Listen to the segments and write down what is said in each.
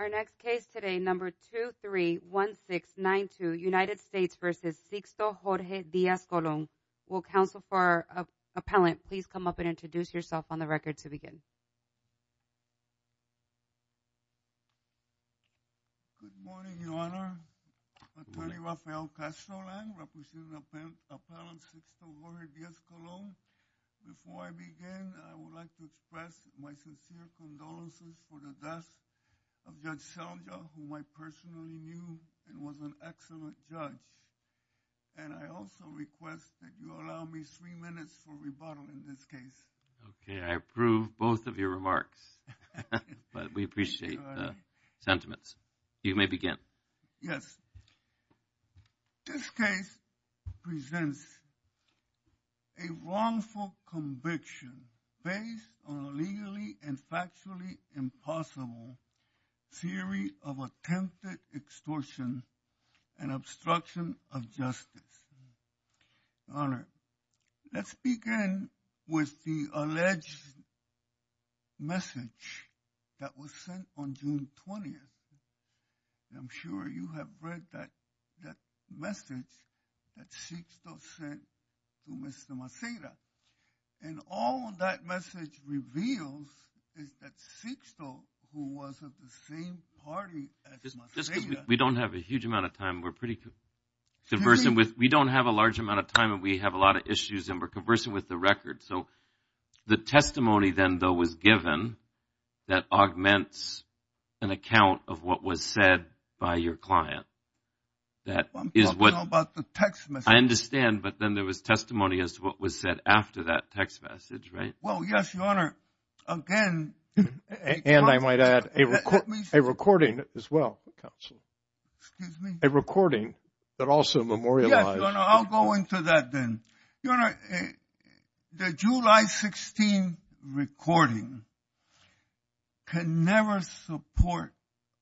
Our next case today, number 231692, United States v. Sixto Jorge Diaz-Colon. Will counsel for our appellant please come up and introduce yourself on the record to begin. Good morning, Your Honor. Attorney Rafael Castrolan, representing Appellant Sixto Jorge Diaz-Colon. Before I begin, I would like to express my sincere condolences for the death of Judge Selda, whom I personally knew and was an excellent judge. And I also request that you allow me three minutes for rebuttal in this case. Okay, I approve both of your remarks. But we appreciate the sentiments. You may begin. Yes, this case presents a wrongful conviction based on a legally and factually impossible theory of attempted extortion and obstruction of justice. Your Honor, let's begin with the alleged message that was sent on June 20th. I'm sure you have read that message that Sixto sent to Mr. Maceda. And all that message reveals is that Sixto, who was of the same party as Maceda Just because we don't have a huge amount of time, we're pretty conversant with We don't have a large amount of time and we have a lot of issues and we're conversant with the record. So the testimony then, though, was given that augments an account of what was said by your client. I'm talking about the text message. I understand, but then there was testimony as to what was said after that text message, right? Well, yes, Your Honor, again And I might add a recording as well, counsel. Excuse me? A recording that also memorializes Yes, Your Honor, I'll go into that then. Your Honor, the July 16 recording can never support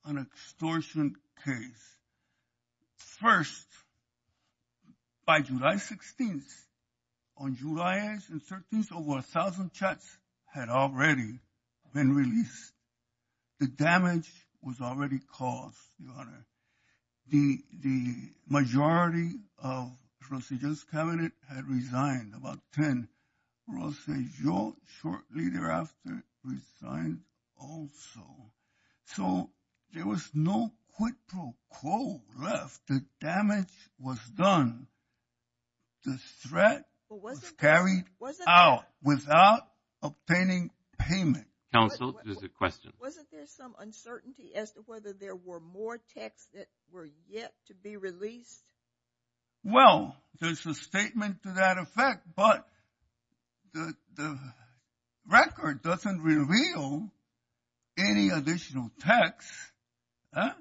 an extortion case. First, by July 16th, on July 8th and 13th, over a thousand chats had already been released. The damage was already caused, Your Honor. The majority of the Procedure's cabinet had resigned, about 10. Procedure shortly thereafter resigned also. So there was no quid pro quo left. The damage was done. The threat was carried out without obtaining payment. Counsel, there's a question. Wasn't there some uncertainty as to whether there were more texts that were yet to be released? Well, there's a statement to that effect, but the record doesn't reveal any additional texts. Huh?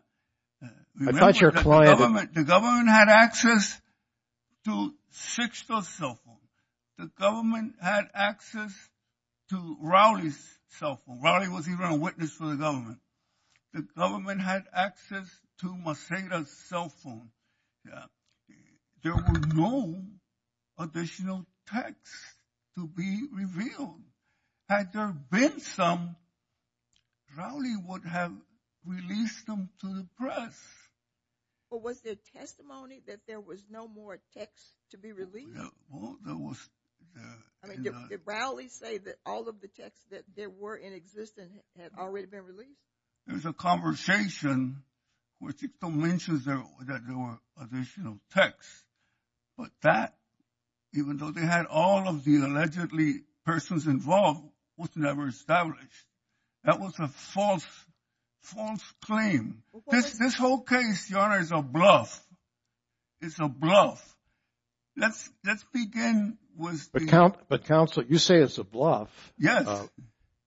I thought your client The government had access to Sixto's cell phone. The government had access to Rowley's cell phone. Rowley was even a witness for the government. The government had access to Maceda's cell phone. Yeah. There were no additional texts to be revealed. Had there been some, Rowley would have released them to the press. But was there testimony that there was no more texts to be released? Well, there was Did Rowley say that all of the texts that were in existence had already been released? There's a conversation where Sixto mentions that there were additional texts. But that, even though they had all of the allegedly persons involved, was never established. That was a false claim. This whole case, Your Honor, is a bluff. It's a bluff. Let's begin with the But, Counsel, you say it's a bluff. Yes.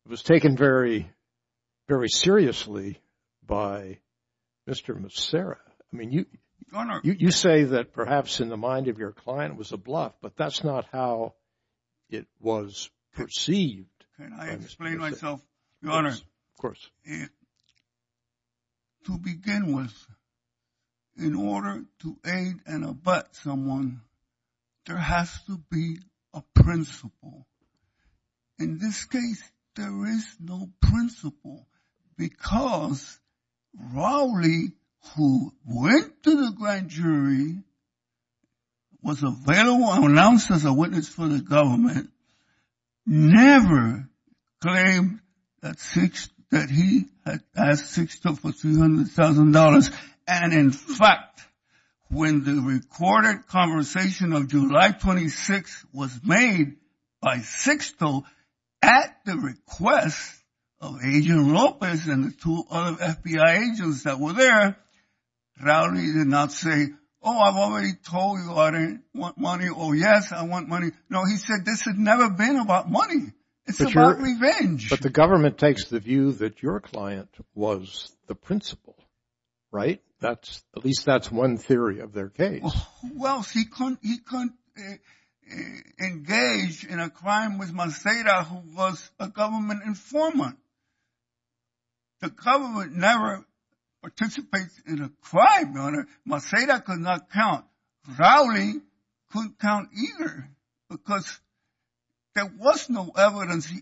It was taken very, very seriously by Mr. Macera. I mean, you say that perhaps in the mind of your client it was a bluff, but that's not how it was perceived. Can I explain myself, Your Honor? Of course. To begin with, in order to aid and abet someone, there has to be a principle. In this case, there is no principle, because Rowley, who went to the grand jury, was available and announced as a witness for the government, never claimed that he had asked Sixto for $300,000. And, in fact, when the recorded conversation of July 26th was made by Sixto at the request of Agent Lopez and the two other FBI agents that were there, Rowley did not say, oh, I've already told you I didn't want money. Oh, yes, I want money. No, he said this had never been about money. It's about revenge. But the government takes the view that your client was the principle, right? At least that's one theory of their case. Who else? He couldn't engage in a crime with Macera, who was a government informant. The government never participates in a crime, Your Honor. Macera could not count. Rowley couldn't count either, because there was no evidence.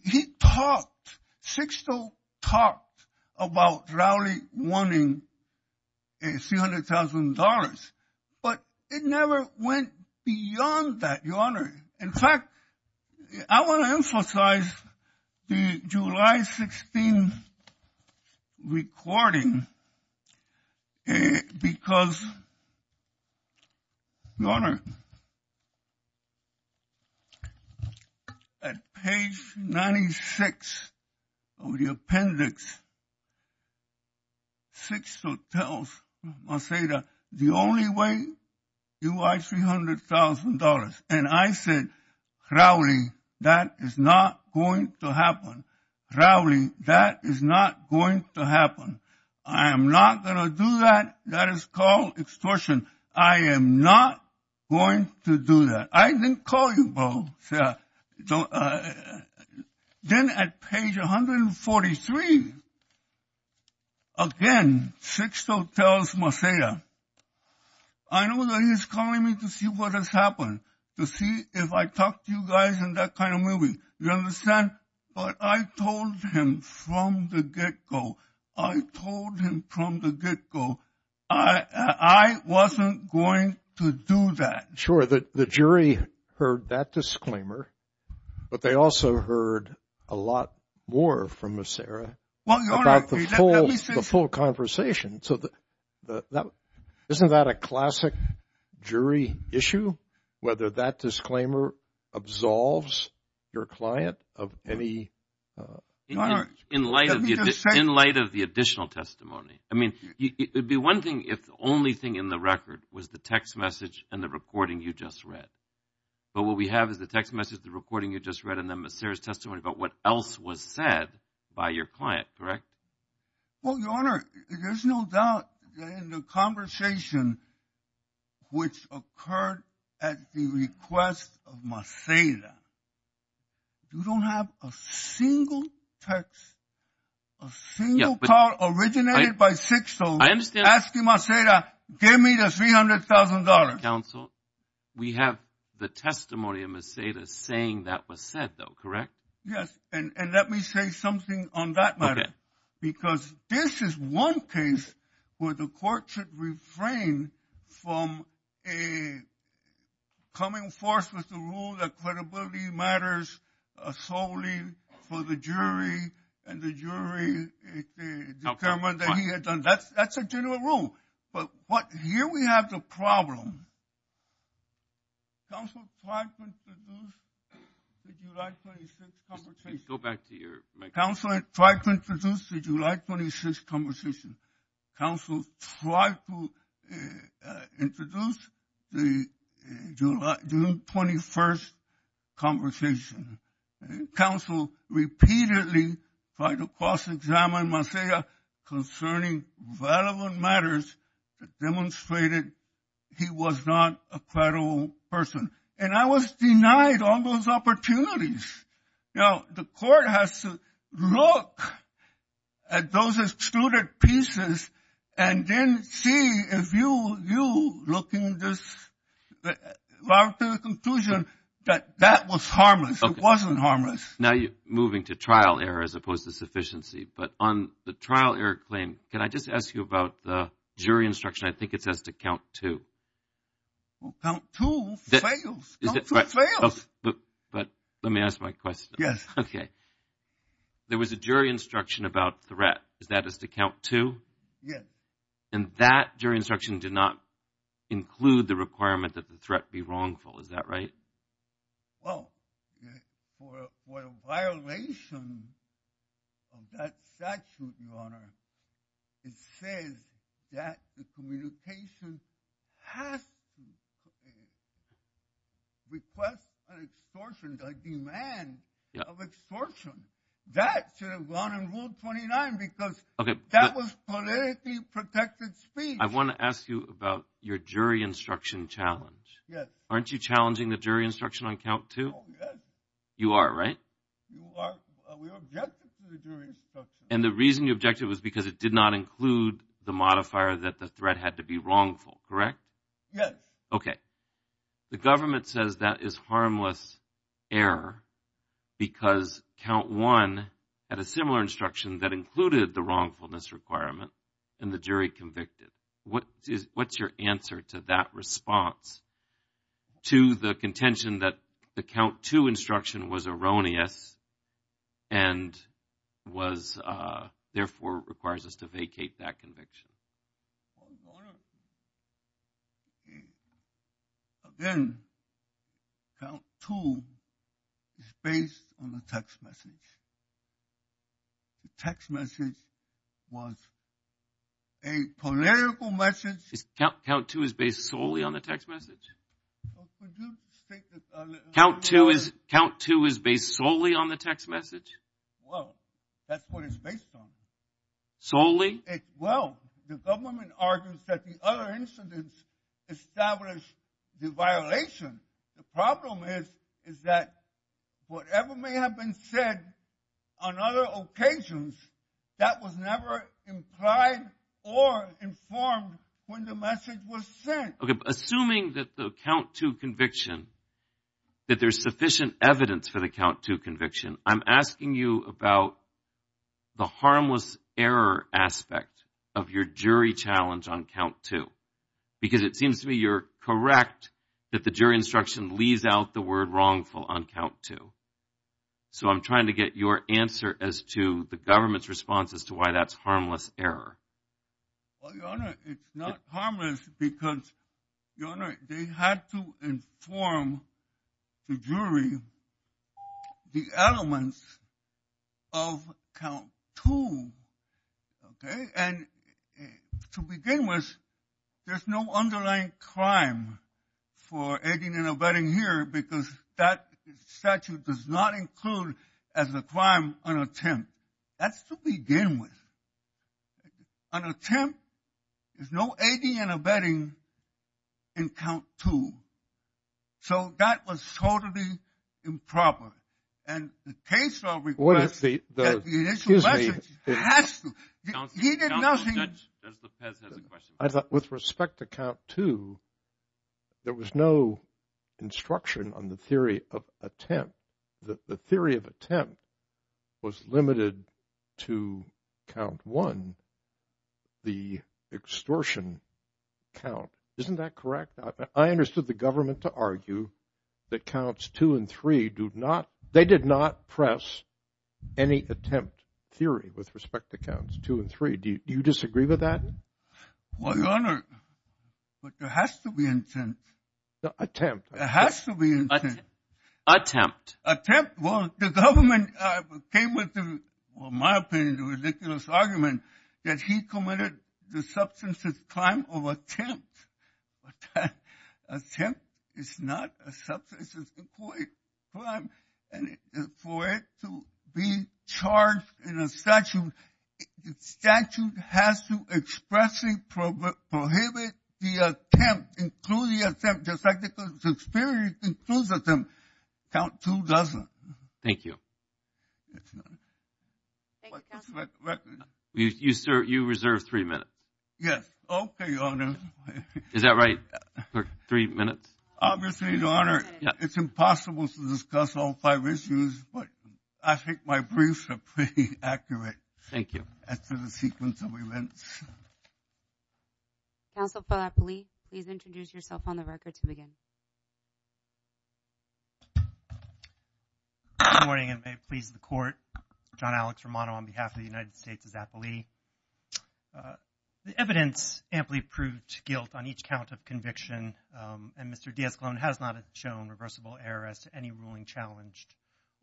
Sixto talked about Rowley wanting $300,000, but it never went beyond that, Your Honor. In fact, I want to emphasize the July 16 recording, because, Your Honor, at page 96 of the appendix, Sixto tells Macera, the only way you are $300,000. And I said, Rowley, that is not going to happen. Rowley, that is not going to happen. I am not going to do that. That is called extortion. I am not going to do that. I didn't call you both. Then at page 143, again, Sixto tells Macera, I know that he is calling me to see what has happened, to see if I talk to you guys in that kind of movie. You understand? But I told him from the get-go. I told him from the get-go. I wasn't going to do that. Sure, the jury heard that disclaimer, but they also heard a lot more from Macera about the full conversation. So isn't that a classic jury issue, whether that disclaimer absolves your client of any? In light of the additional testimony. I mean, it would be one thing if the only thing in the record was the text message and the recording you just read. But what we have is the text message, the recording you just read, and then Macera's testimony about what else was said by your client, correct? Well, Your Honor, there's no doubt in the conversation which occurred at the request of Macera. You don't have a single text, a single card originated by Sixto asking Macera, give me the $300,000. Counsel, we have the testimony of Macera saying that was said, though, correct? Yes, and let me say something on that matter. Because this is one case where the court should refrain from coming forth with the rule that credibility matters solely for the jury, and the jury determined that he had done that. That's a general rule. But here we have the problem. Counsel, try to introduce the July 26th conversation. Go back to your microphone. Counsel, try to introduce the July 26th conversation. Counsel, try to introduce the June 21st conversation. Counsel repeatedly tried to cross-examine Macera concerning relevant matters that demonstrated he was not a credible person. And I was denied all those opportunities. Now, the court has to look at those excluded pieces and then see if you, looking at this, come to the conclusion that that was harmless, it wasn't harmless. Now you're moving to trial error as opposed to sufficiency. But on the trial error claim, can I just ask you about the jury instruction? I think it says to count to. Count to fails. But let me ask my question. Okay. There was a jury instruction about threat. Is that to count to? Yes. And that jury instruction did not include the requirement that the threat be wrongful. Is that right? Well, for a violation of that statute, Your Honor, it says that the communication has to request an extortion, a demand of extortion. That should have gone in Rule 29 because that was politically protected speech. I want to ask you about your jury instruction challenge. Yes. Aren't you challenging the jury instruction on count to? You are, right? You are. We objected to the jury instruction. And the reason you objected was because it did not include the modifier that the threat had to be wrongful, correct? Yes. Okay. The government says that is harmless error because count one had a similar instruction that included the wrongfulness requirement and the jury convicted. What's your answer to that response to the contention that the count to instruction was erroneous and therefore requires us to vacate that conviction? Again, count to is based on the text message. The text message was a political message. Count to is based solely on the text message? Count to is based solely on the text message? Well, that's what it's based on. Solely? Well, the government argues that the other incidents established the violation. The problem is that whatever may have been said on other occasions, that was never implied or informed when the message was sent. Okay. Assuming that the count to conviction, that there's sufficient evidence for the count to conviction, I'm asking you about the harmless error aspect of your jury challenge on count to. Because it seems to me you're correct that the jury instruction leaves out the word wrongful on count to. So I'm trying to get your answer as to the government's response as to why that's harmless error. Well, Your Honor, it's not harmless because, Your Honor, they had to inform the jury the elements of count to. Okay. And to begin with, there's no underlying crime for aiding and abetting here because that statute does not include as a crime an attempt. That's to begin with. An attempt is no aiding and abetting in count to. So that was totally improper. And the case will request that the initial message has to. He did nothing. Counsel, Judge, Judge Lepez has a question. With respect to count to, there was no instruction on the theory of attempt. The theory of attempt was limited to count one, the extortion count. Isn't that correct? I understood the government to argue that counts two and three do not, they did not press any attempt theory with respect to counts two and three. Do you disagree with that? Well, Your Honor, but there has to be intent. Attempt. There has to be intent. Attempt. Attempt. Well, the government came with, in my opinion, the ridiculous argument that he committed the substance of crime of attempt. Attempt is not a substance of crime. And for it to be charged in a statute, the statute has to expressly prohibit the attempt, include the attempt, just like the experience includes attempt. Count two doesn't. Thank you. You reserve three minutes. Yes. Okay, Your Honor. Is that right? Three minutes? Obviously, Your Honor, it's impossible to discuss all five issues, but I think my briefs are pretty accurate. Thank you. After the sequence of events. Counsel for Zappoli, please introduce yourself on the record to begin. Good morning, and may it please the Court. John Alex Romano on behalf of the United States of Zappoli. The evidence amply proved guilt on each count of conviction, and Mr. D'Escolone has not shown reversible error as to any ruling challenged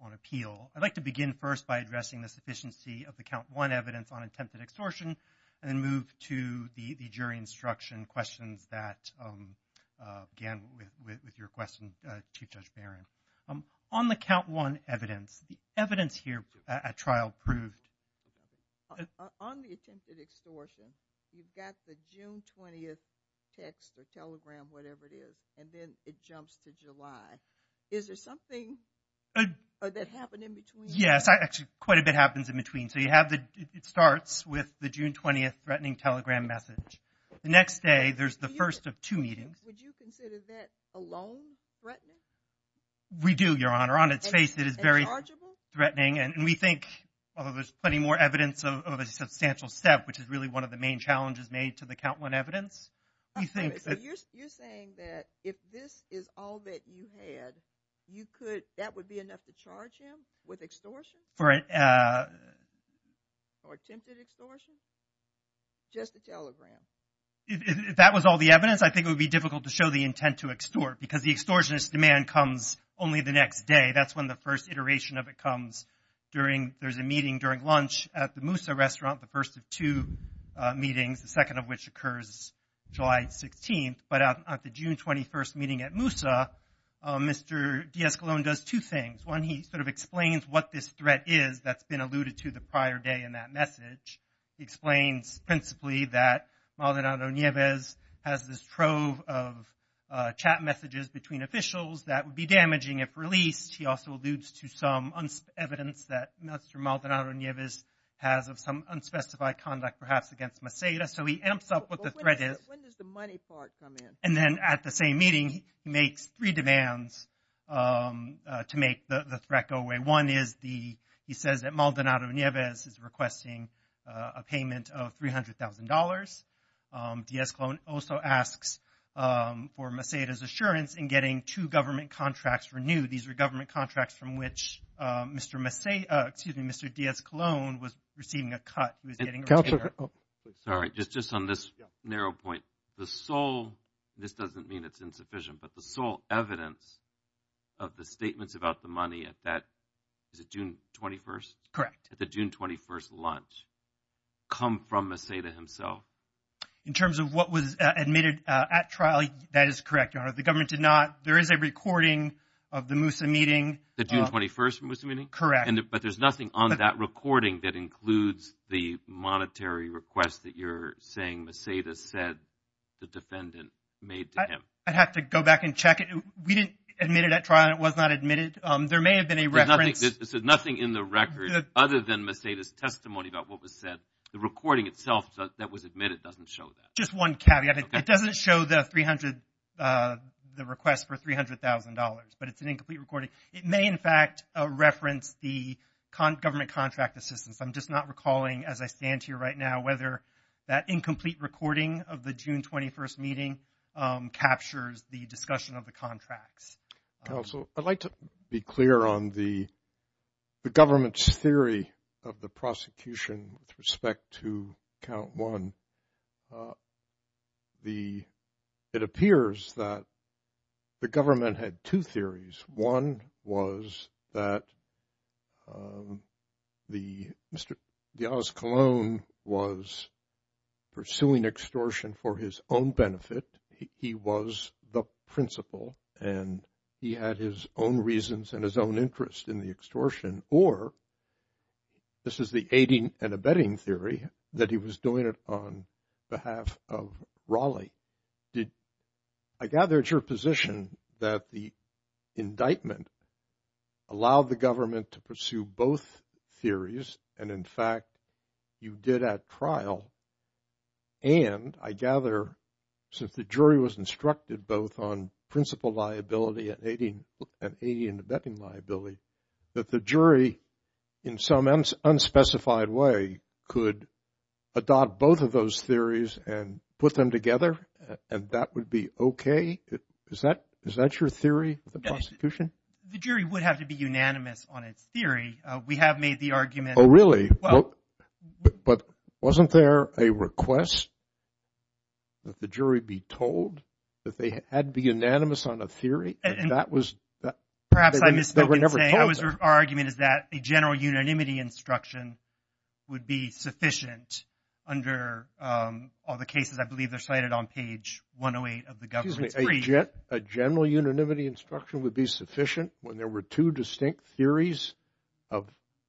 on appeal. I'd like to begin first by addressing the sufficiency of the count one evidence on attempted extortion, and then move to the jury instruction questions that began with your question, Chief Judge Barron. On the count one evidence, the evidence here at trial proved. On the attempted extortion, you've got the June 20th text or telegram, whatever it is, and then it jumps to July. Is there something that happened in between? Yes, actually quite a bit happens in between. So you have the, it starts with the June 20th threatening telegram message. The next day, there's the first of two meetings. Would you consider that alone threatening? We do, Your Honor. On its face, it is very threatening, and we think, although there's plenty more evidence of a substantial step, which is really one of the main challenges made to the count one evidence. You're saying that if this is all that you had, you could, that would be enough to charge him with extortion? Or attempted extortion? Just the telegram. If that was all the evidence, I think it would be difficult to show the intent to extort, because the extortionist demand comes only the next day. That's when the first iteration of it comes. There's a meeting during lunch at the Moussa restaurant, the first of two meetings, the second of which occurs July 16th. But at the June 21st meeting at Moussa, Mr. de Escalon does two things. One, he sort of explains what this threat is that's been alluded to the prior day in that message. He explains principally that Maldonado Nieves has this trove of chat messages between officials that would be damaging if released. He also alludes to some evidence that Mr. Maldonado Nieves has of some unspecified conduct perhaps against Merceda. So he amps up what the threat is. When does the money part come in? And then at the same meeting, he makes three demands to make the threat go away. One is he says that Maldonado Nieves is requesting a payment of $300,000. De Escalon also asks for Merceda's assurance in getting two government contracts renewed. These are government contracts from which Mr. de Escalon was receiving a cut. Sorry, just on this narrow point, the sole—this doesn't mean it's insufficient, but the sole evidence of the statements about the money at that—is it June 21st? Correct. At the June 21st lunch come from Merceda himself. In terms of what was admitted at trial, that is correct, Your Honor. The government did not—there is a recording of the Moussa meeting. The June 21st Moussa meeting? Correct. But there's nothing on that recording that includes the monetary request that you're saying Merceda said the defendant made to him. I'd have to go back and check it. We didn't admit it at trial, and it was not admitted. There may have been a reference— There's nothing in the record other than Merceda's testimony about what was said. The recording itself that was admitted doesn't show that. Just one caveat. It doesn't show the 300—the request for $300,000, but it's an incomplete recording. It may, in fact, reference the government contract assistance. I'm just not recalling as I stand here right now whether that incomplete recording of the June 21st meeting captures the discussion of the contracts. Counsel, I'd like to be clear on the government's theory of the prosecution with respect to Count 1. It appears that the government had two theories. One was that Mr. Diaz-Colón was pursuing extortion for his own benefit. He was the principal, and he had his own reasons and his own interest in the extortion. Or this is the aiding and abetting theory, that he was doing it on behalf of Raleigh. I gather it's your position that the indictment allowed the government to pursue both theories, and, in fact, you did at trial. And I gather, since the jury was instructed both on principal liability and aiding and abetting liability, that the jury, in some unspecified way, could adopt both of those theories and put them together, and that would be okay? Is that your theory of the prosecution? The jury would have to be unanimous on its theory. We have made the argument— Oh, really? But wasn't there a request that the jury be told that they had to be unanimous on a theory? And that was— Perhaps I misspoke in saying our argument is that a general unanimity instruction would be sufficient under all the cases. I believe they're cited on page 108 of the government's brief. A general unanimity instruction would be sufficient when there were two distinct theories of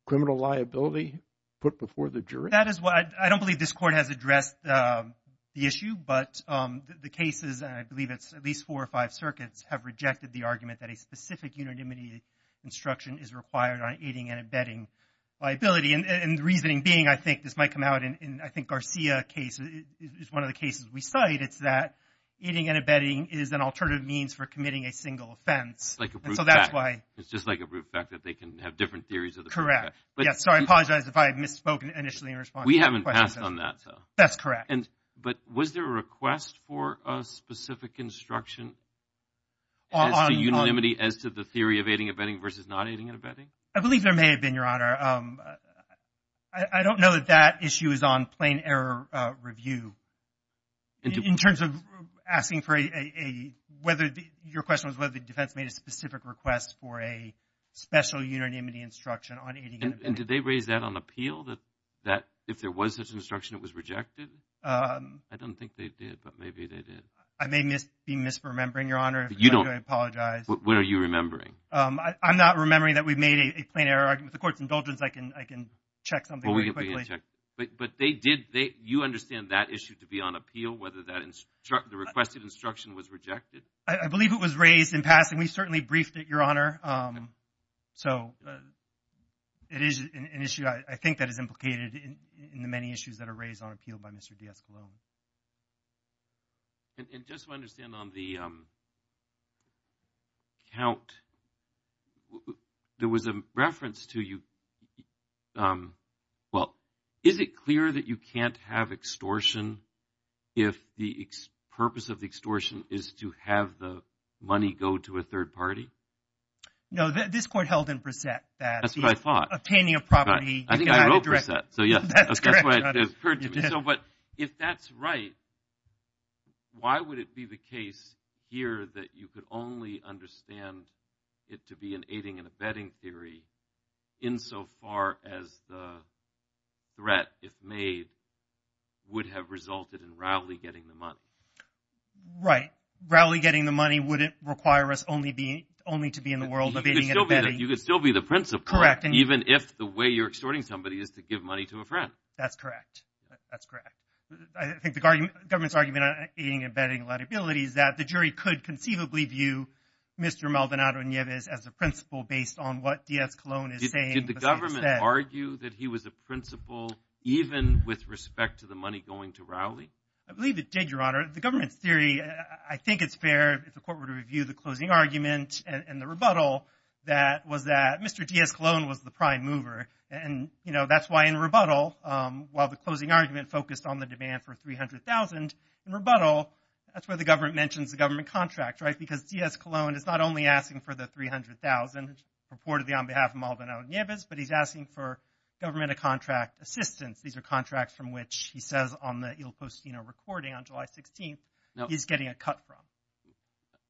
criminal liability put before the jury? I don't believe this Court has addressed the issue, but the cases, and I believe it's at least four or five circuits, have rejected the argument that a specific unanimity instruction is required on aiding and abetting liability. And the reasoning being, I think this might come out in, I think, Garcia's case is one of the cases we cite. It's that aiding and abetting is an alternative means for committing a single offense. Like a brute fact. And so that's why— It's just like a brute fact that they can have different theories of the— Correct. Yes, so I apologize if I had misspoken initially in response to your question. We haven't passed on that, so— That's correct. But was there a request for a specific instruction as to unanimity, as to the theory of aiding and abetting versus not aiding and abetting? I believe there may have been, Your Honor. I don't know that that issue is on plain error review. In terms of asking for a—whether—your question was whether the defense made a specific request for a special unanimity instruction on aiding and abetting. And did they raise that on appeal, that if there was such an instruction, it was rejected? I don't think they did, but maybe they did. I may be misremembering, Your Honor. You don't— I apologize. What are you remembering? I'm not remembering that we made a plain error argument. With the Court's indulgence, I can check something very quickly. Well, we can check. But they did—you understand that issue to be on appeal, whether that—the requested instruction was rejected? I believe it was raised in passing. We certainly briefed it, Your Honor. So it is an issue, I think, that is implicated in the many issues that are raised on appeal by Mr. DiEscalone. And just to understand on the count, there was a reference to you—well, is it clear that you can't have extortion if the purpose of the extortion is to have the money go to a third party? No. This Court held in Brissett that— That's what I thought. —obtaining a property— I think I wrote Brissett. So, yes. That's correct. But if that's right, why would it be the case here that you could only understand it to be an aiding and abetting theory insofar as the threat, if made, would have resulted in Rowley getting the money? Right. Rowley getting the money wouldn't require us only to be in the world of aiding and abetting. You could still be the principal. Correct. Even if the way you're extorting somebody is to give money to a friend. That's correct. That's correct. I think the government's argument on aiding and abetting liability is that the jury could conceivably view Mr. Maldonado-Nieves as a principal based on what DiEscalone is saying. Did the government argue that he was a principal even with respect to the money going to Rowley? I believe it did, Your Honor. The government's theory, I think it's fair if the court were to review the closing argument and the rebuttal, that was that Mr. DiEscalone was the prime mover. And, you know, that's why in rebuttal, while the closing argument focused on the demand for $300,000, in rebuttal, that's where the government mentions the government contract, right? Because DiEscalone is not only asking for the $300,000 purportedly on behalf of Maldonado-Nieves, but he's asking for government-of-contract assistance. These are contracts from which he says on the Il Postino recording on July 16th, he's getting a cut from.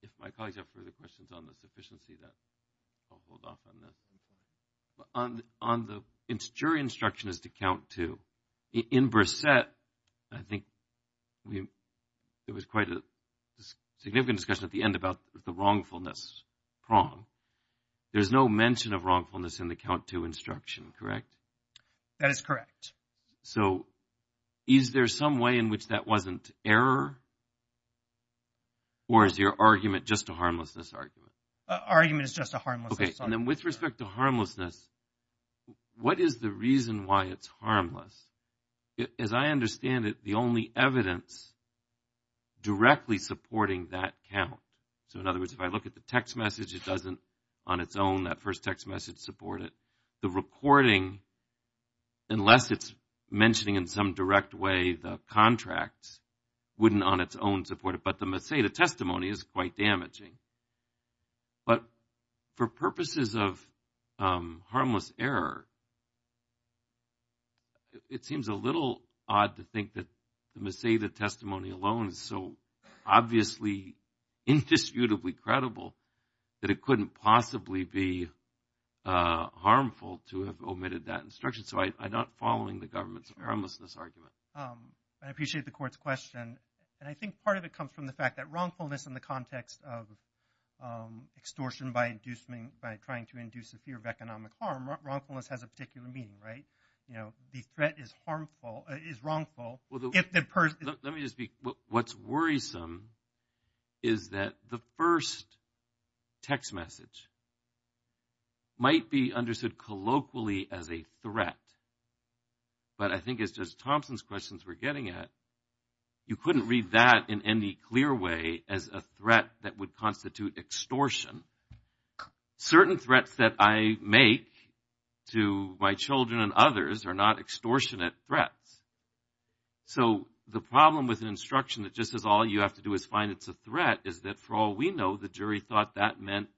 If my colleagues have further questions on the sufficiency of that, I'll hold off on this. On the jury instruction as to Count II, in Brissett, I think there was quite a significant discussion at the end about the wrongfulness prong. There's no mention of wrongfulness in the Count II instruction, correct? That is correct. So, is there some way in which that wasn't error? Or is your argument just a harmlessness argument? Argument is just a harmlessness argument. Okay. And then with respect to harmlessness, what is the reason why it's harmless? As I understand it, the only evidence directly supporting that count, so in other words, if I look at the text message, it doesn't on its own, that first text message support it. The recording, unless it's mentioning in some direct way the contracts, wouldn't on its own support it. But the Maceda testimony is quite damaging. But for purposes of harmless error, it seems a little odd to think that the Maceda testimony alone is so obviously indisputably credible that it couldn't possibly be harmful to have omitted that instruction. So, I'm not following the government's harmlessness argument. I appreciate the court's question. And I think part of it comes from the fact that wrongfulness in the context of extortion by trying to induce a fear of economic harm, wrongfulness has a particular meaning, right? You know, the threat is harmful – is wrongful. Let me just be – what's worrisome is that the first text message might be understood colloquially as a threat, but I think it's just Thompson's questions we're getting at. You couldn't read that in any clear way as a threat that would constitute extortion. Certain threats that I make to my children and others are not extortionate threats. So, the problem with an instruction that just says all you have to do is find it's a threat is that for all we know, the jury thought that meant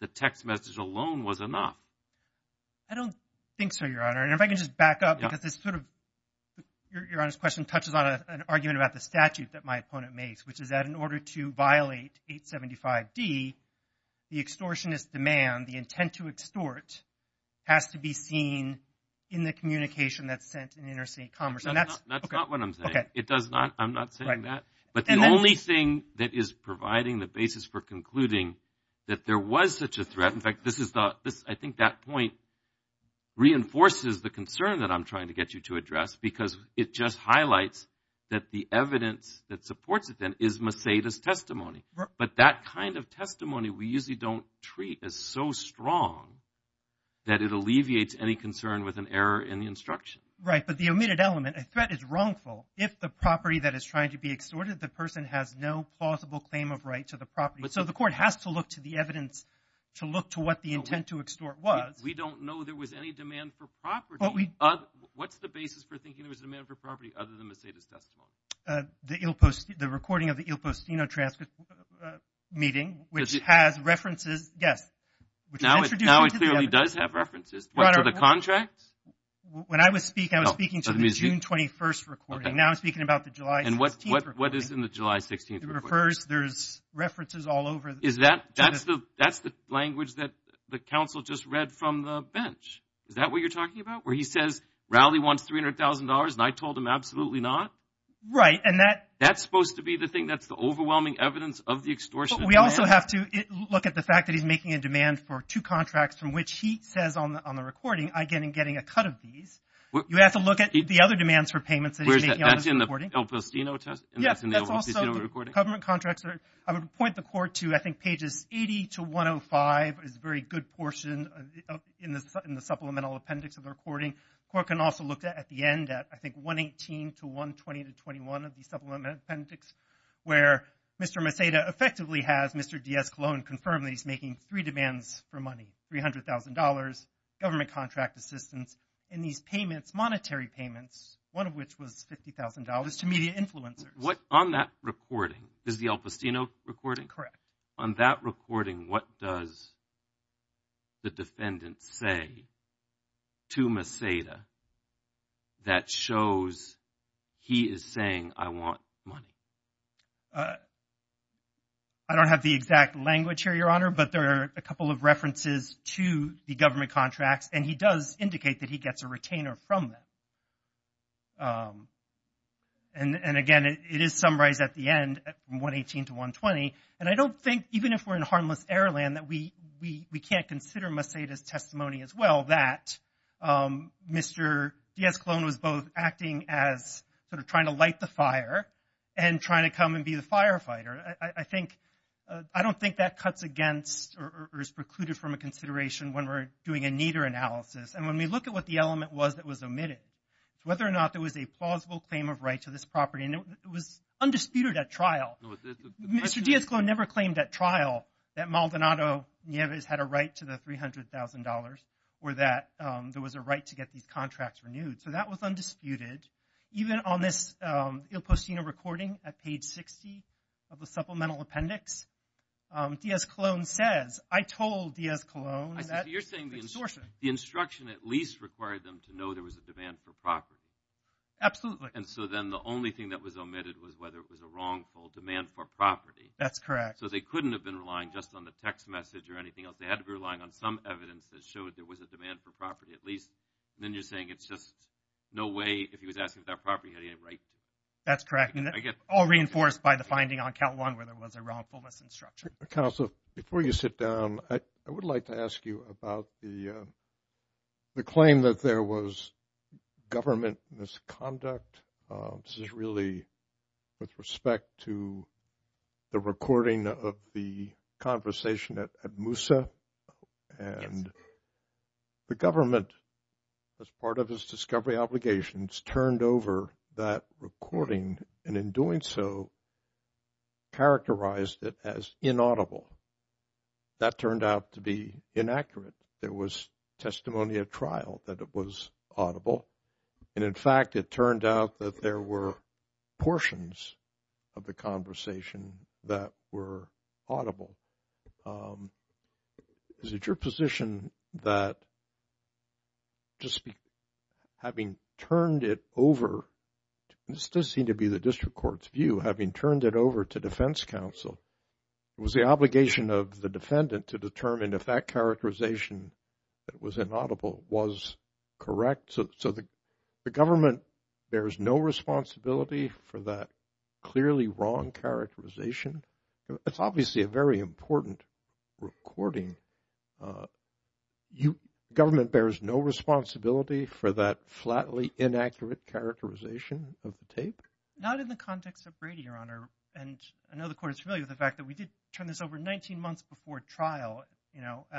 the text message alone was enough. I don't think so, Your Honor. And if I can just back up because this sort of – Your Honor's question touches on an argument about the statute that my opponent makes, which is that in order to violate 875D, the extortionist demand, the intent to extort, has to be seen in the communication that's sent in interstate commerce. And that's – okay. That's not what I'm saying. Okay. It does not – I'm not saying that. Right. But the only thing that is providing the basis for concluding that there was such a threat – in fact, this is the – I think that point reinforces the concern that I'm trying to get you to address because it just highlights that the evidence that supports it then is Mercedes testimony. But that kind of testimony we usually don't treat as so strong that it alleviates any concern with an error in the instruction. Right. But the omitted element, a threat is wrongful if the property that is trying to be extorted, the person has no plausible claim of right to the property. So the court has to look to the evidence to look to what the intent to extort was. We don't know there was any demand for property. What's the basis for thinking there was a demand for property other than Mercedes testimony? The recording of the Il Postino transcript meeting, which has references – yes. Now it clearly does have references. What, to the contract? When I was speaking, I was speaking to the June 21st recording. Now I'm speaking about the July 16th recording. And what is in the July 16th recording? It refers – there's references all over. Is that – that's the language that the counsel just read from the bench? Is that what you're talking about, where he says Rowley wants $300,000 and I told him absolutely not? Right, and that – That's supposed to be the thing that's the overwhelming evidence of the extortion. We also have to look at the fact that he's making a demand for two contracts, from which he says on the recording, I'm getting a cut of these. You have to look at the other demands for payments that he's making on this recording. That's in the Il Postino test and that's in the Il Postino recording? Yes, that's also the government contracts. I would point the court to, I think, pages 80 to 105 is a very good portion in the supplemental appendix of the recording. The court can also look at the end at, I think, 118 to 120 to 21 of the supplemental appendix, where Mr. Maceda effectively has Mr. Diaz-Colón confirm that he's making three demands for money, $300,000, government contract assistance, and these payments, monetary payments, one of which was $50,000 to media influencers. On that recording, is the Il Postino recording? Correct. On that recording, what does the defendant say to Maceda that shows he is saying, I want money? I don't have the exact language here, Your Honor, but there are a couple of references to the government contracts, and he does indicate that he gets a retainer from them. And, again, it is summarized at the end, 118 to 120, and I don't think, even if we're in harmless air land, that we can't consider Maceda's testimony as well that Mr. Diaz-Colón was both acting as sort of trying to light the fire and trying to come and be the firefighter. I don't think that cuts against or is precluded from a consideration when we're doing a neater analysis. And when we look at what the element was that was omitted, whether or not there was a plausible claim of right to this property, and it was undisputed at trial. Mr. Diaz-Colón never claimed at trial that Maldonado Nieves had a right to the $300,000 or that there was a right to get these contracts renewed. So that was undisputed. Even on this Il Postino recording at page 60 of the supplemental appendix, Diaz-Colón says, I told Diaz-Colón that the instruction at least required them to know there was a demand for property. And so then the only thing that was omitted was whether it was a wrongful demand for property. That's correct. So they couldn't have been relying just on the text message or anything else. They had to be relying on some evidence that showed there was a demand for property at least. And then you're saying it's just no way, if he was asking for that property, he had any right to it. That's correct. All reinforced by the finding on count one where there was a wrongfulness instruction. Council, before you sit down, I would like to ask you about the claim that there was government misconduct. This is really with respect to the recording of the conversation at Moussa. And the government, as part of its discovery obligations, turned over that recording and in doing so characterized it as inaudible. That turned out to be inaccurate. There was testimony at trial that it was audible. And in fact, it turned out that there were portions of the conversation that were audible. Is it your position that just having turned it over? This does seem to be the district court's view, having turned it over to defense counsel, it was the obligation of the defendant to determine if that characterization that was inaudible was correct. So the government, there is no responsibility for that clearly wrong characterization. It's obviously a very important recording. Government bears no responsibility for that flatly inaccurate characterization of the tape? Not in the context of Brady, Your Honor. And I know the court is familiar with the fact that we did turn this over 19 months before trial. So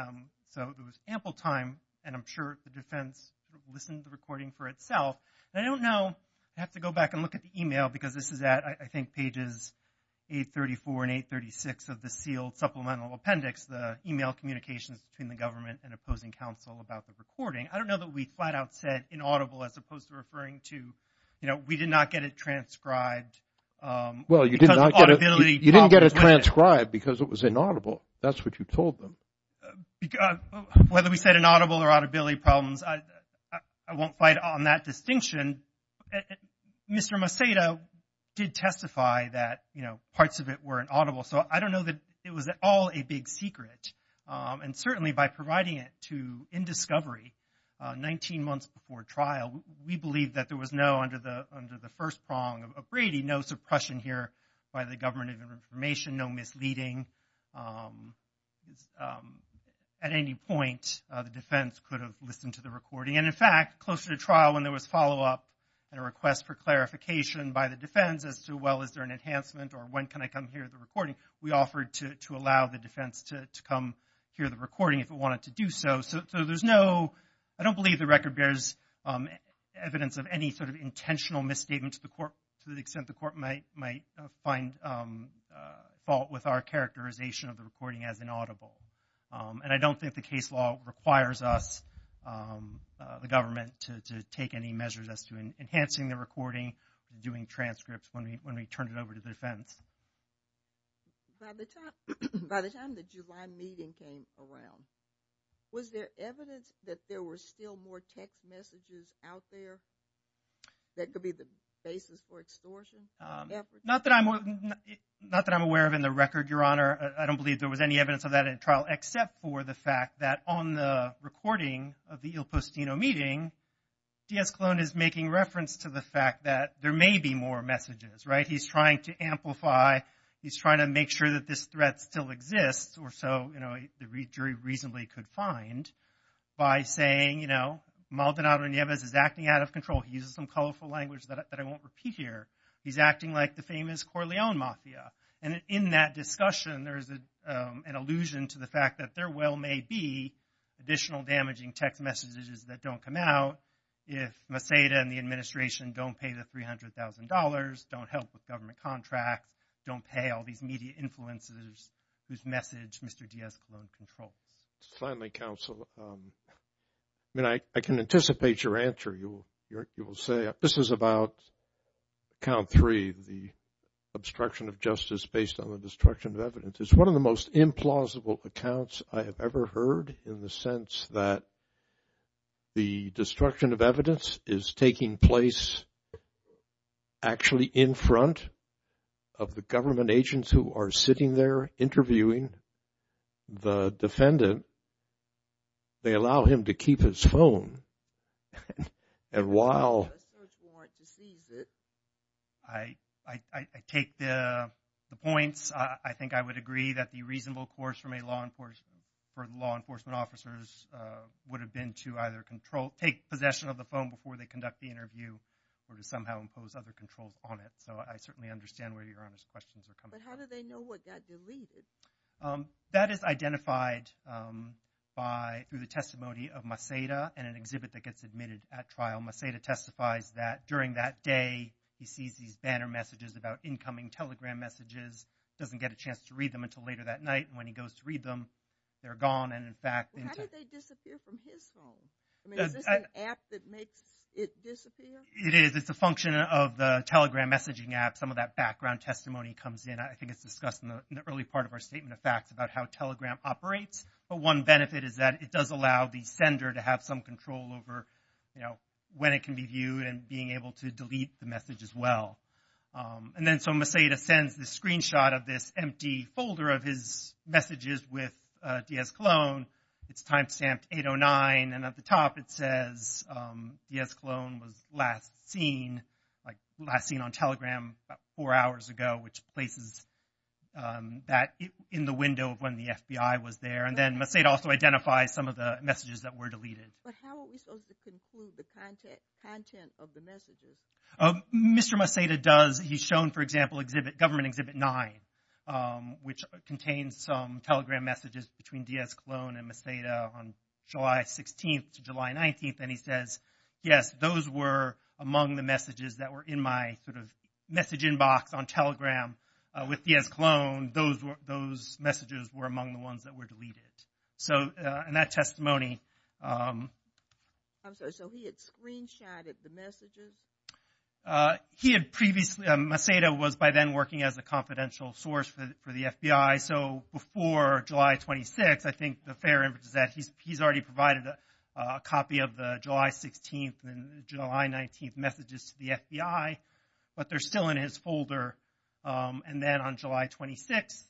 there was ample time, and I'm sure the defense listened to the recording for itself. I don't know. I have to go back and look at the e-mail because this is at, I think, pages 834 and 836 of the sealed supplemental appendix, the e-mail communications between the government and opposing counsel about the recording. I don't know that we flat out said inaudible as opposed to referring to, you know, we did not get it transcribed. Well, you did not get it transcribed because it was inaudible. That's what you told them. Whether we said inaudible or audibility problems, I won't fight on that distinction. Mr. Macedo did testify that, you know, parts of it were inaudible. So I don't know that it was at all a big secret. And certainly by providing it to, in discovery, 19 months before trial, we believe that there was no, under the first prong of Brady, no suppression here by the government of information, no misleading, at any point the defense could have listened to the recording. And, in fact, closer to trial when there was follow-up and a request for clarification by the defense as to, well, is there an enhancement or when can I come hear the recording, we offered to allow the defense to come hear the recording if it wanted to do so. So there's no, I don't believe the record bears evidence of any sort of intentional misstatement to the court that might find fault with our characterization of the recording as inaudible. And I don't think the case law requires us, the government, to take any measures as to enhancing the recording, doing transcripts when we turn it over to the defense. By the time the July meeting came around, was there evidence that there were still more text messages out there that could be the basis for extortion? Not that I'm aware of in the record, Your Honor. I don't believe there was any evidence of that in trial, except for the fact that on the recording of the Il Postino meeting, Diaz-Clone is making reference to the fact that there may be more messages, right? He's trying to amplify, he's trying to make sure that this threat still exists, or so the jury reasonably could find, by saying, you know, Maldonado Nieves is acting out of control. He uses some colorful language that I won't repeat here. He's acting like the famous Corleone mafia. And in that discussion, there's an allusion to the fact that there well may be additional damaging text messages that don't come out if Maceda and the administration don't pay the $300,000, don't help with government contracts, don't pay all these media influencers whose message Mr. Diaz-Clone controls. Finally, counsel, I mean, I can anticipate your answer. You will say this is about count three, the obstruction of justice based on the destruction of evidence. It's one of the most implausible accounts I have ever heard in the sense that the destruction of evidence is taking place actually in front of the government agents who are sitting there interviewing the defendant. They allow him to keep his phone. And while I take the points, I think I would agree that the reasonable course for law enforcement officers would have been to either take possession of the phone before they conduct the interview or to somehow impose other controls on it. So I certainly understand where Your Honor's questions are coming from. But how do they know what got deleted? That is identified through the testimony of Maceda in an exhibit that gets admitted at trial. Maceda testifies that during that day, he sees these banner messages about incoming telegram messages, doesn't get a chance to read them until later that night. And when he goes to read them, they're gone. How did they disappear from his phone? Is this an app that makes it disappear? It is. It's a function of the telegram messaging app. Some of that background testimony comes in. I think it's discussed in the early part of our statement of facts about how telegram operates. But one benefit is that it does allow the sender to have some control over when it can be viewed and being able to delete the message as well. And then so Maceda sends this screenshot of this empty folder of his messages with Diaz-Colón. It's timestamped 8-0-9. And at the top, it says Diaz-Colón was last seen on telegram about four hours ago, which places that in the window of when the FBI was there. And then Maceda also identifies some of the messages that were deleted. But how are we supposed to conclude the content of the messages? Mr. Maceda does. He's shown, for example, Government Exhibit 9, which contains some telegram messages between Diaz-Colón and Maceda on July 16th to July 19th. And he says, yes, those were among the messages that were in my message inbox on telegram with Diaz-Colón. Those messages were among the ones that were deleted. So in that testimony- I'm sorry, so he had screenshotted the messages? He had previously-Maceda was by then working as a confidential source for the FBI. So before July 26th, I think the fair image is that he's already provided a copy of the July 16th and July 19th messages to the FBI, but they're still in his folder. And then on July 26th,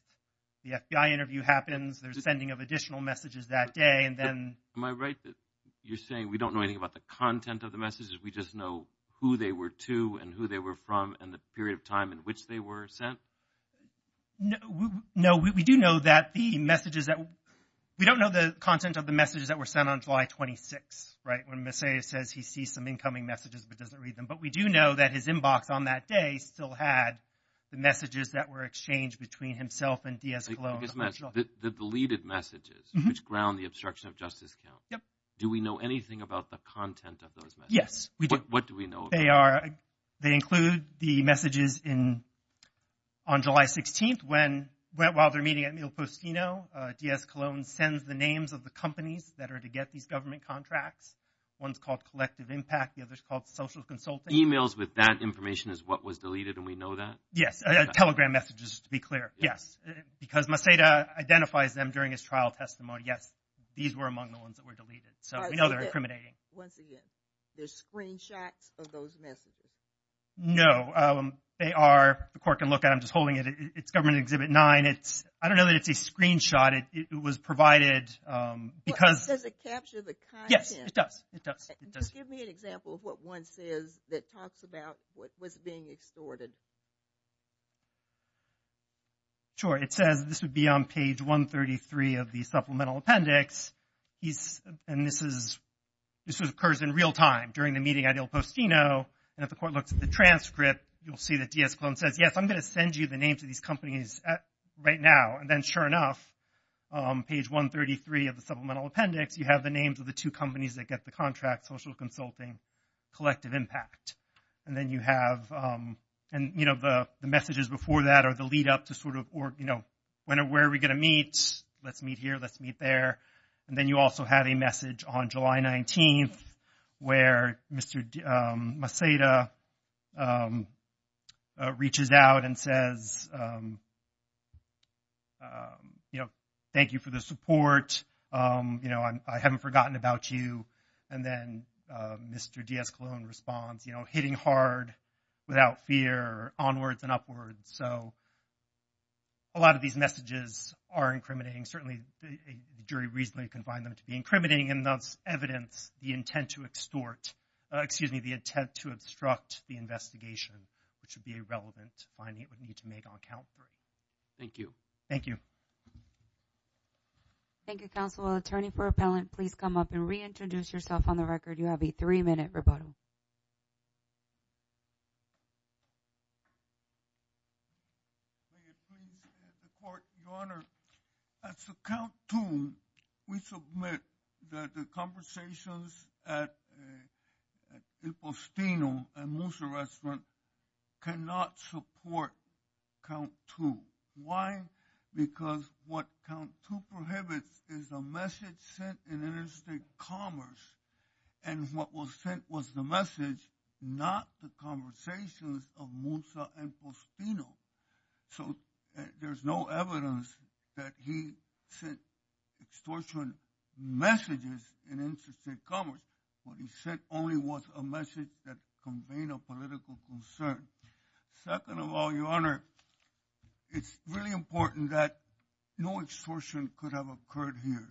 the FBI interview happens. There's a sending of additional messages that day. Am I right that you're saying we don't know anything about the content of the messages, we just know who they were to and who they were from and the period of time in which they were sent? No, we do know that the messages that-we don't know the content of the messages that were sent on July 26th, when Maceda says he sees some incoming messages but doesn't read them. But we do know that his inbox on that day still had the messages that were exchanged between himself and Diaz-Colón. The deleted messages, which ground the obstruction of justice count. Do we know anything about the content of those messages? Yes, we do. What do we know? They include the messages on July 16th when, while they're meeting at Mil Postino, Diaz-Colón sends the names of the companies that are to get these government contracts. One's called Collective Impact, the other's called Social Consulting. Emails with that information is what was deleted and we know that? Yes, Telegram messages, to be clear. Yes, because Maceda identifies them during his trial testimony. Yes, these were among the ones that were deleted. So we know they're incriminating. Once again, there's screenshots of those messages? No, they are-the court can look at them. I'm just holding it. It's Government Exhibit 9. It's-I don't know that it's a screenshot. It was provided because- Does it capture the content? Yes, it does. It does. Just give me an example of what one says that talks about what was being extorted. Sure. It says this would be on page 133 of the supplemental appendix. And this is-this occurs in real time during the meeting at Mil Postino. And if the court looks at the transcript, you'll see that Diaz-Colón says, yes, I'm going to send you the names of these companies right now. And then, sure enough, on page 133 of the supplemental appendix, you have the names of the two companies that get the contract, social consulting, collective impact. And then you have-and, you know, the messages before that are the lead up to sort of, you know, where are we going to meet? Let's meet here. Let's meet there. And then you also have a message on July 19th where Mr. Maceda reaches out and says, you know, thank you for the support. You know, I haven't forgotten about you. And then Mr. Diaz-Colón responds, you know, hitting hard, without fear, onwards and upwards. So a lot of these messages are incriminating. Certainly the jury reasonably can find them to be incriminating in those evidence, the intent to extort-excuse me, the intent to obstruct the investigation, which would be irrelevant to finding it would need to make on count three. Thank you. Thank you. Thank you, counsel. Attorney for Appellant, please come up and reintroduce yourself on the record. You have a three-minute rebuttal. Your Honor, as to count two, we submit that the conversations at El Postino and Musa Restaurant cannot support count two. Why? Because what count two prohibits is a message sent in interstate commerce and what was sent was the message, not the conversations of Musa and Postino. So there's no evidence that he sent extortion messages in interstate commerce. What he sent only was a message that conveyed a political concern. Second of all, Your Honor, it's really important that no extortion could have occurred here.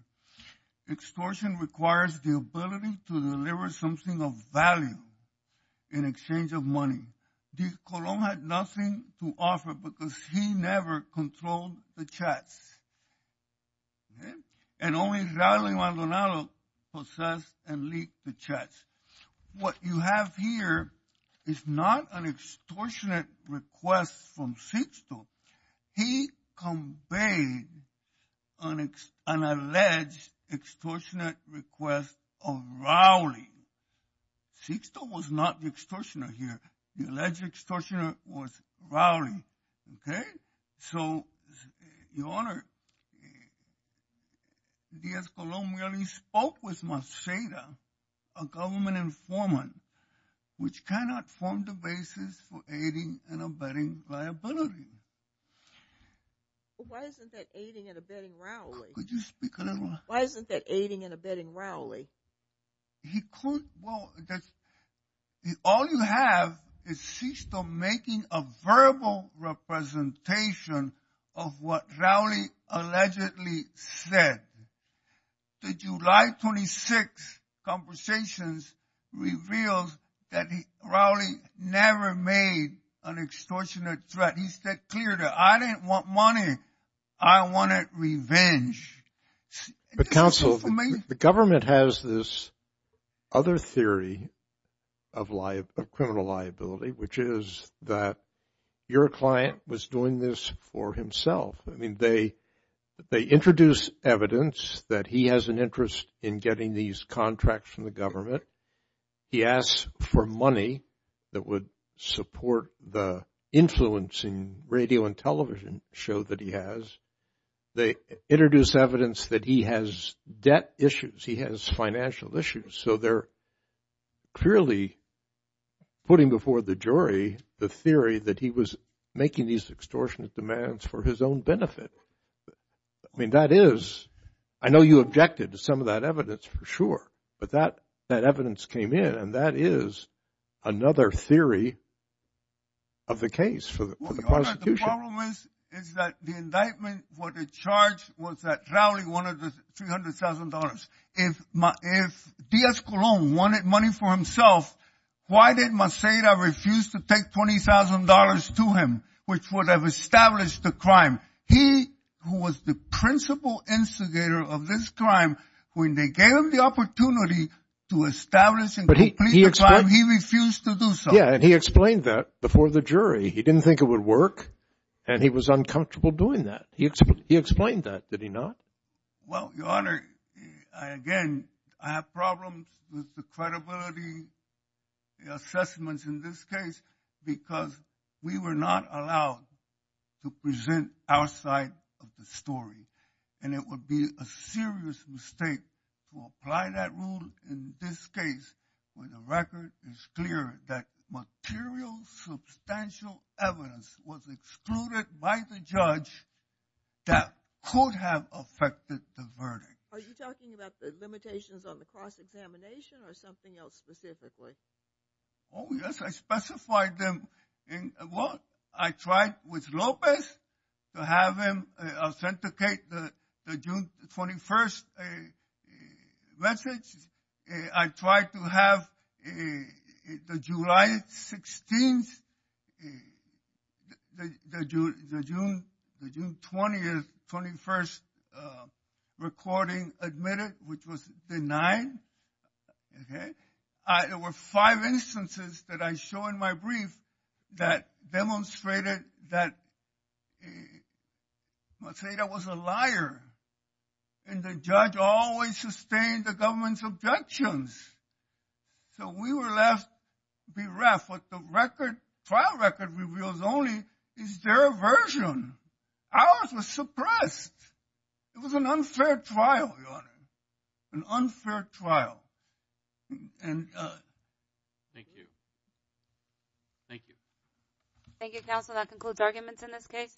Extortion requires the ability to deliver something of value in exchange of money. Colón had nothing to offer because he never controlled the chats, and only Raul Imaldonado possessed and leaked the chats. What you have here is not an extortionate request from Sixto. He conveyed an alleged extortionate request of Raul Imaldonado. Sixto was not the extortioner here. The alleged extortioner was Raul Imaldonado. So, Your Honor, Diaz-Colón really spoke with Merceda, a government informant, which cannot form the basis for aiding and abetting liability. Why isn't that aiding and abetting Raul? Could you speak a little louder? Why isn't that aiding and abetting Raul? Well, all you have is Sixto making a verbal representation of what Raul allegedly said. The July 26th conversations revealed that Raul never made an extortionate threat. He said clearly, I didn't want money. I wanted revenge. But, counsel, the government has this other theory of criminal liability, which is that your client was doing this for himself. I mean, they introduce evidence that he has an interest in getting these contracts from the government. He asks for money that would support the influencing radio and television show that he has. They introduce evidence that he has debt issues. He has financial issues. So they're clearly putting before the jury the theory that he was making these extortionate demands for his own benefit. I mean, that is, I know you objected to some of that evidence, for sure. But that evidence came in, and that is another theory of the case for the prosecution. The problem is that the indictment for the charge was that Raul wanted $300,000. If Diaz Colon wanted money for himself, why did Merceda refuse to take $20,000 to him, which would have established the crime? He, who was the principal instigator of this crime, when they gave him the opportunity to establish and complete the crime, he refused to do so. Yeah, and he explained that before the jury. He didn't think it would work, and he was uncomfortable doing that. He explained that, did he not? Well, Your Honor, again, I have problems with the credibility assessments in this case because we were not allowed to present our side of the story. And it would be a serious mistake to apply that rule in this case where the record is clear that material, substantial evidence was excluded by the judge that could have affected the verdict. Are you talking about the limitations on the cross-examination or something else specifically? Oh, yes, I specified them. Well, I tried with Lopez to have him authenticate the June 21st message. I tried to have the July 16th, the June 20th, 21st recording admitted, which was denied. There were five instances that I show in my brief that demonstrated that, let's say, that was a liar, and the judge always sustained the government's objections. So we were left bereft. What the trial record reveals only is their aversion. Ours was suppressed. It was an unfair trial, Your Honor. An unfair trial. Thank you. Thank you. Thank you, counsel. That concludes arguments in this case.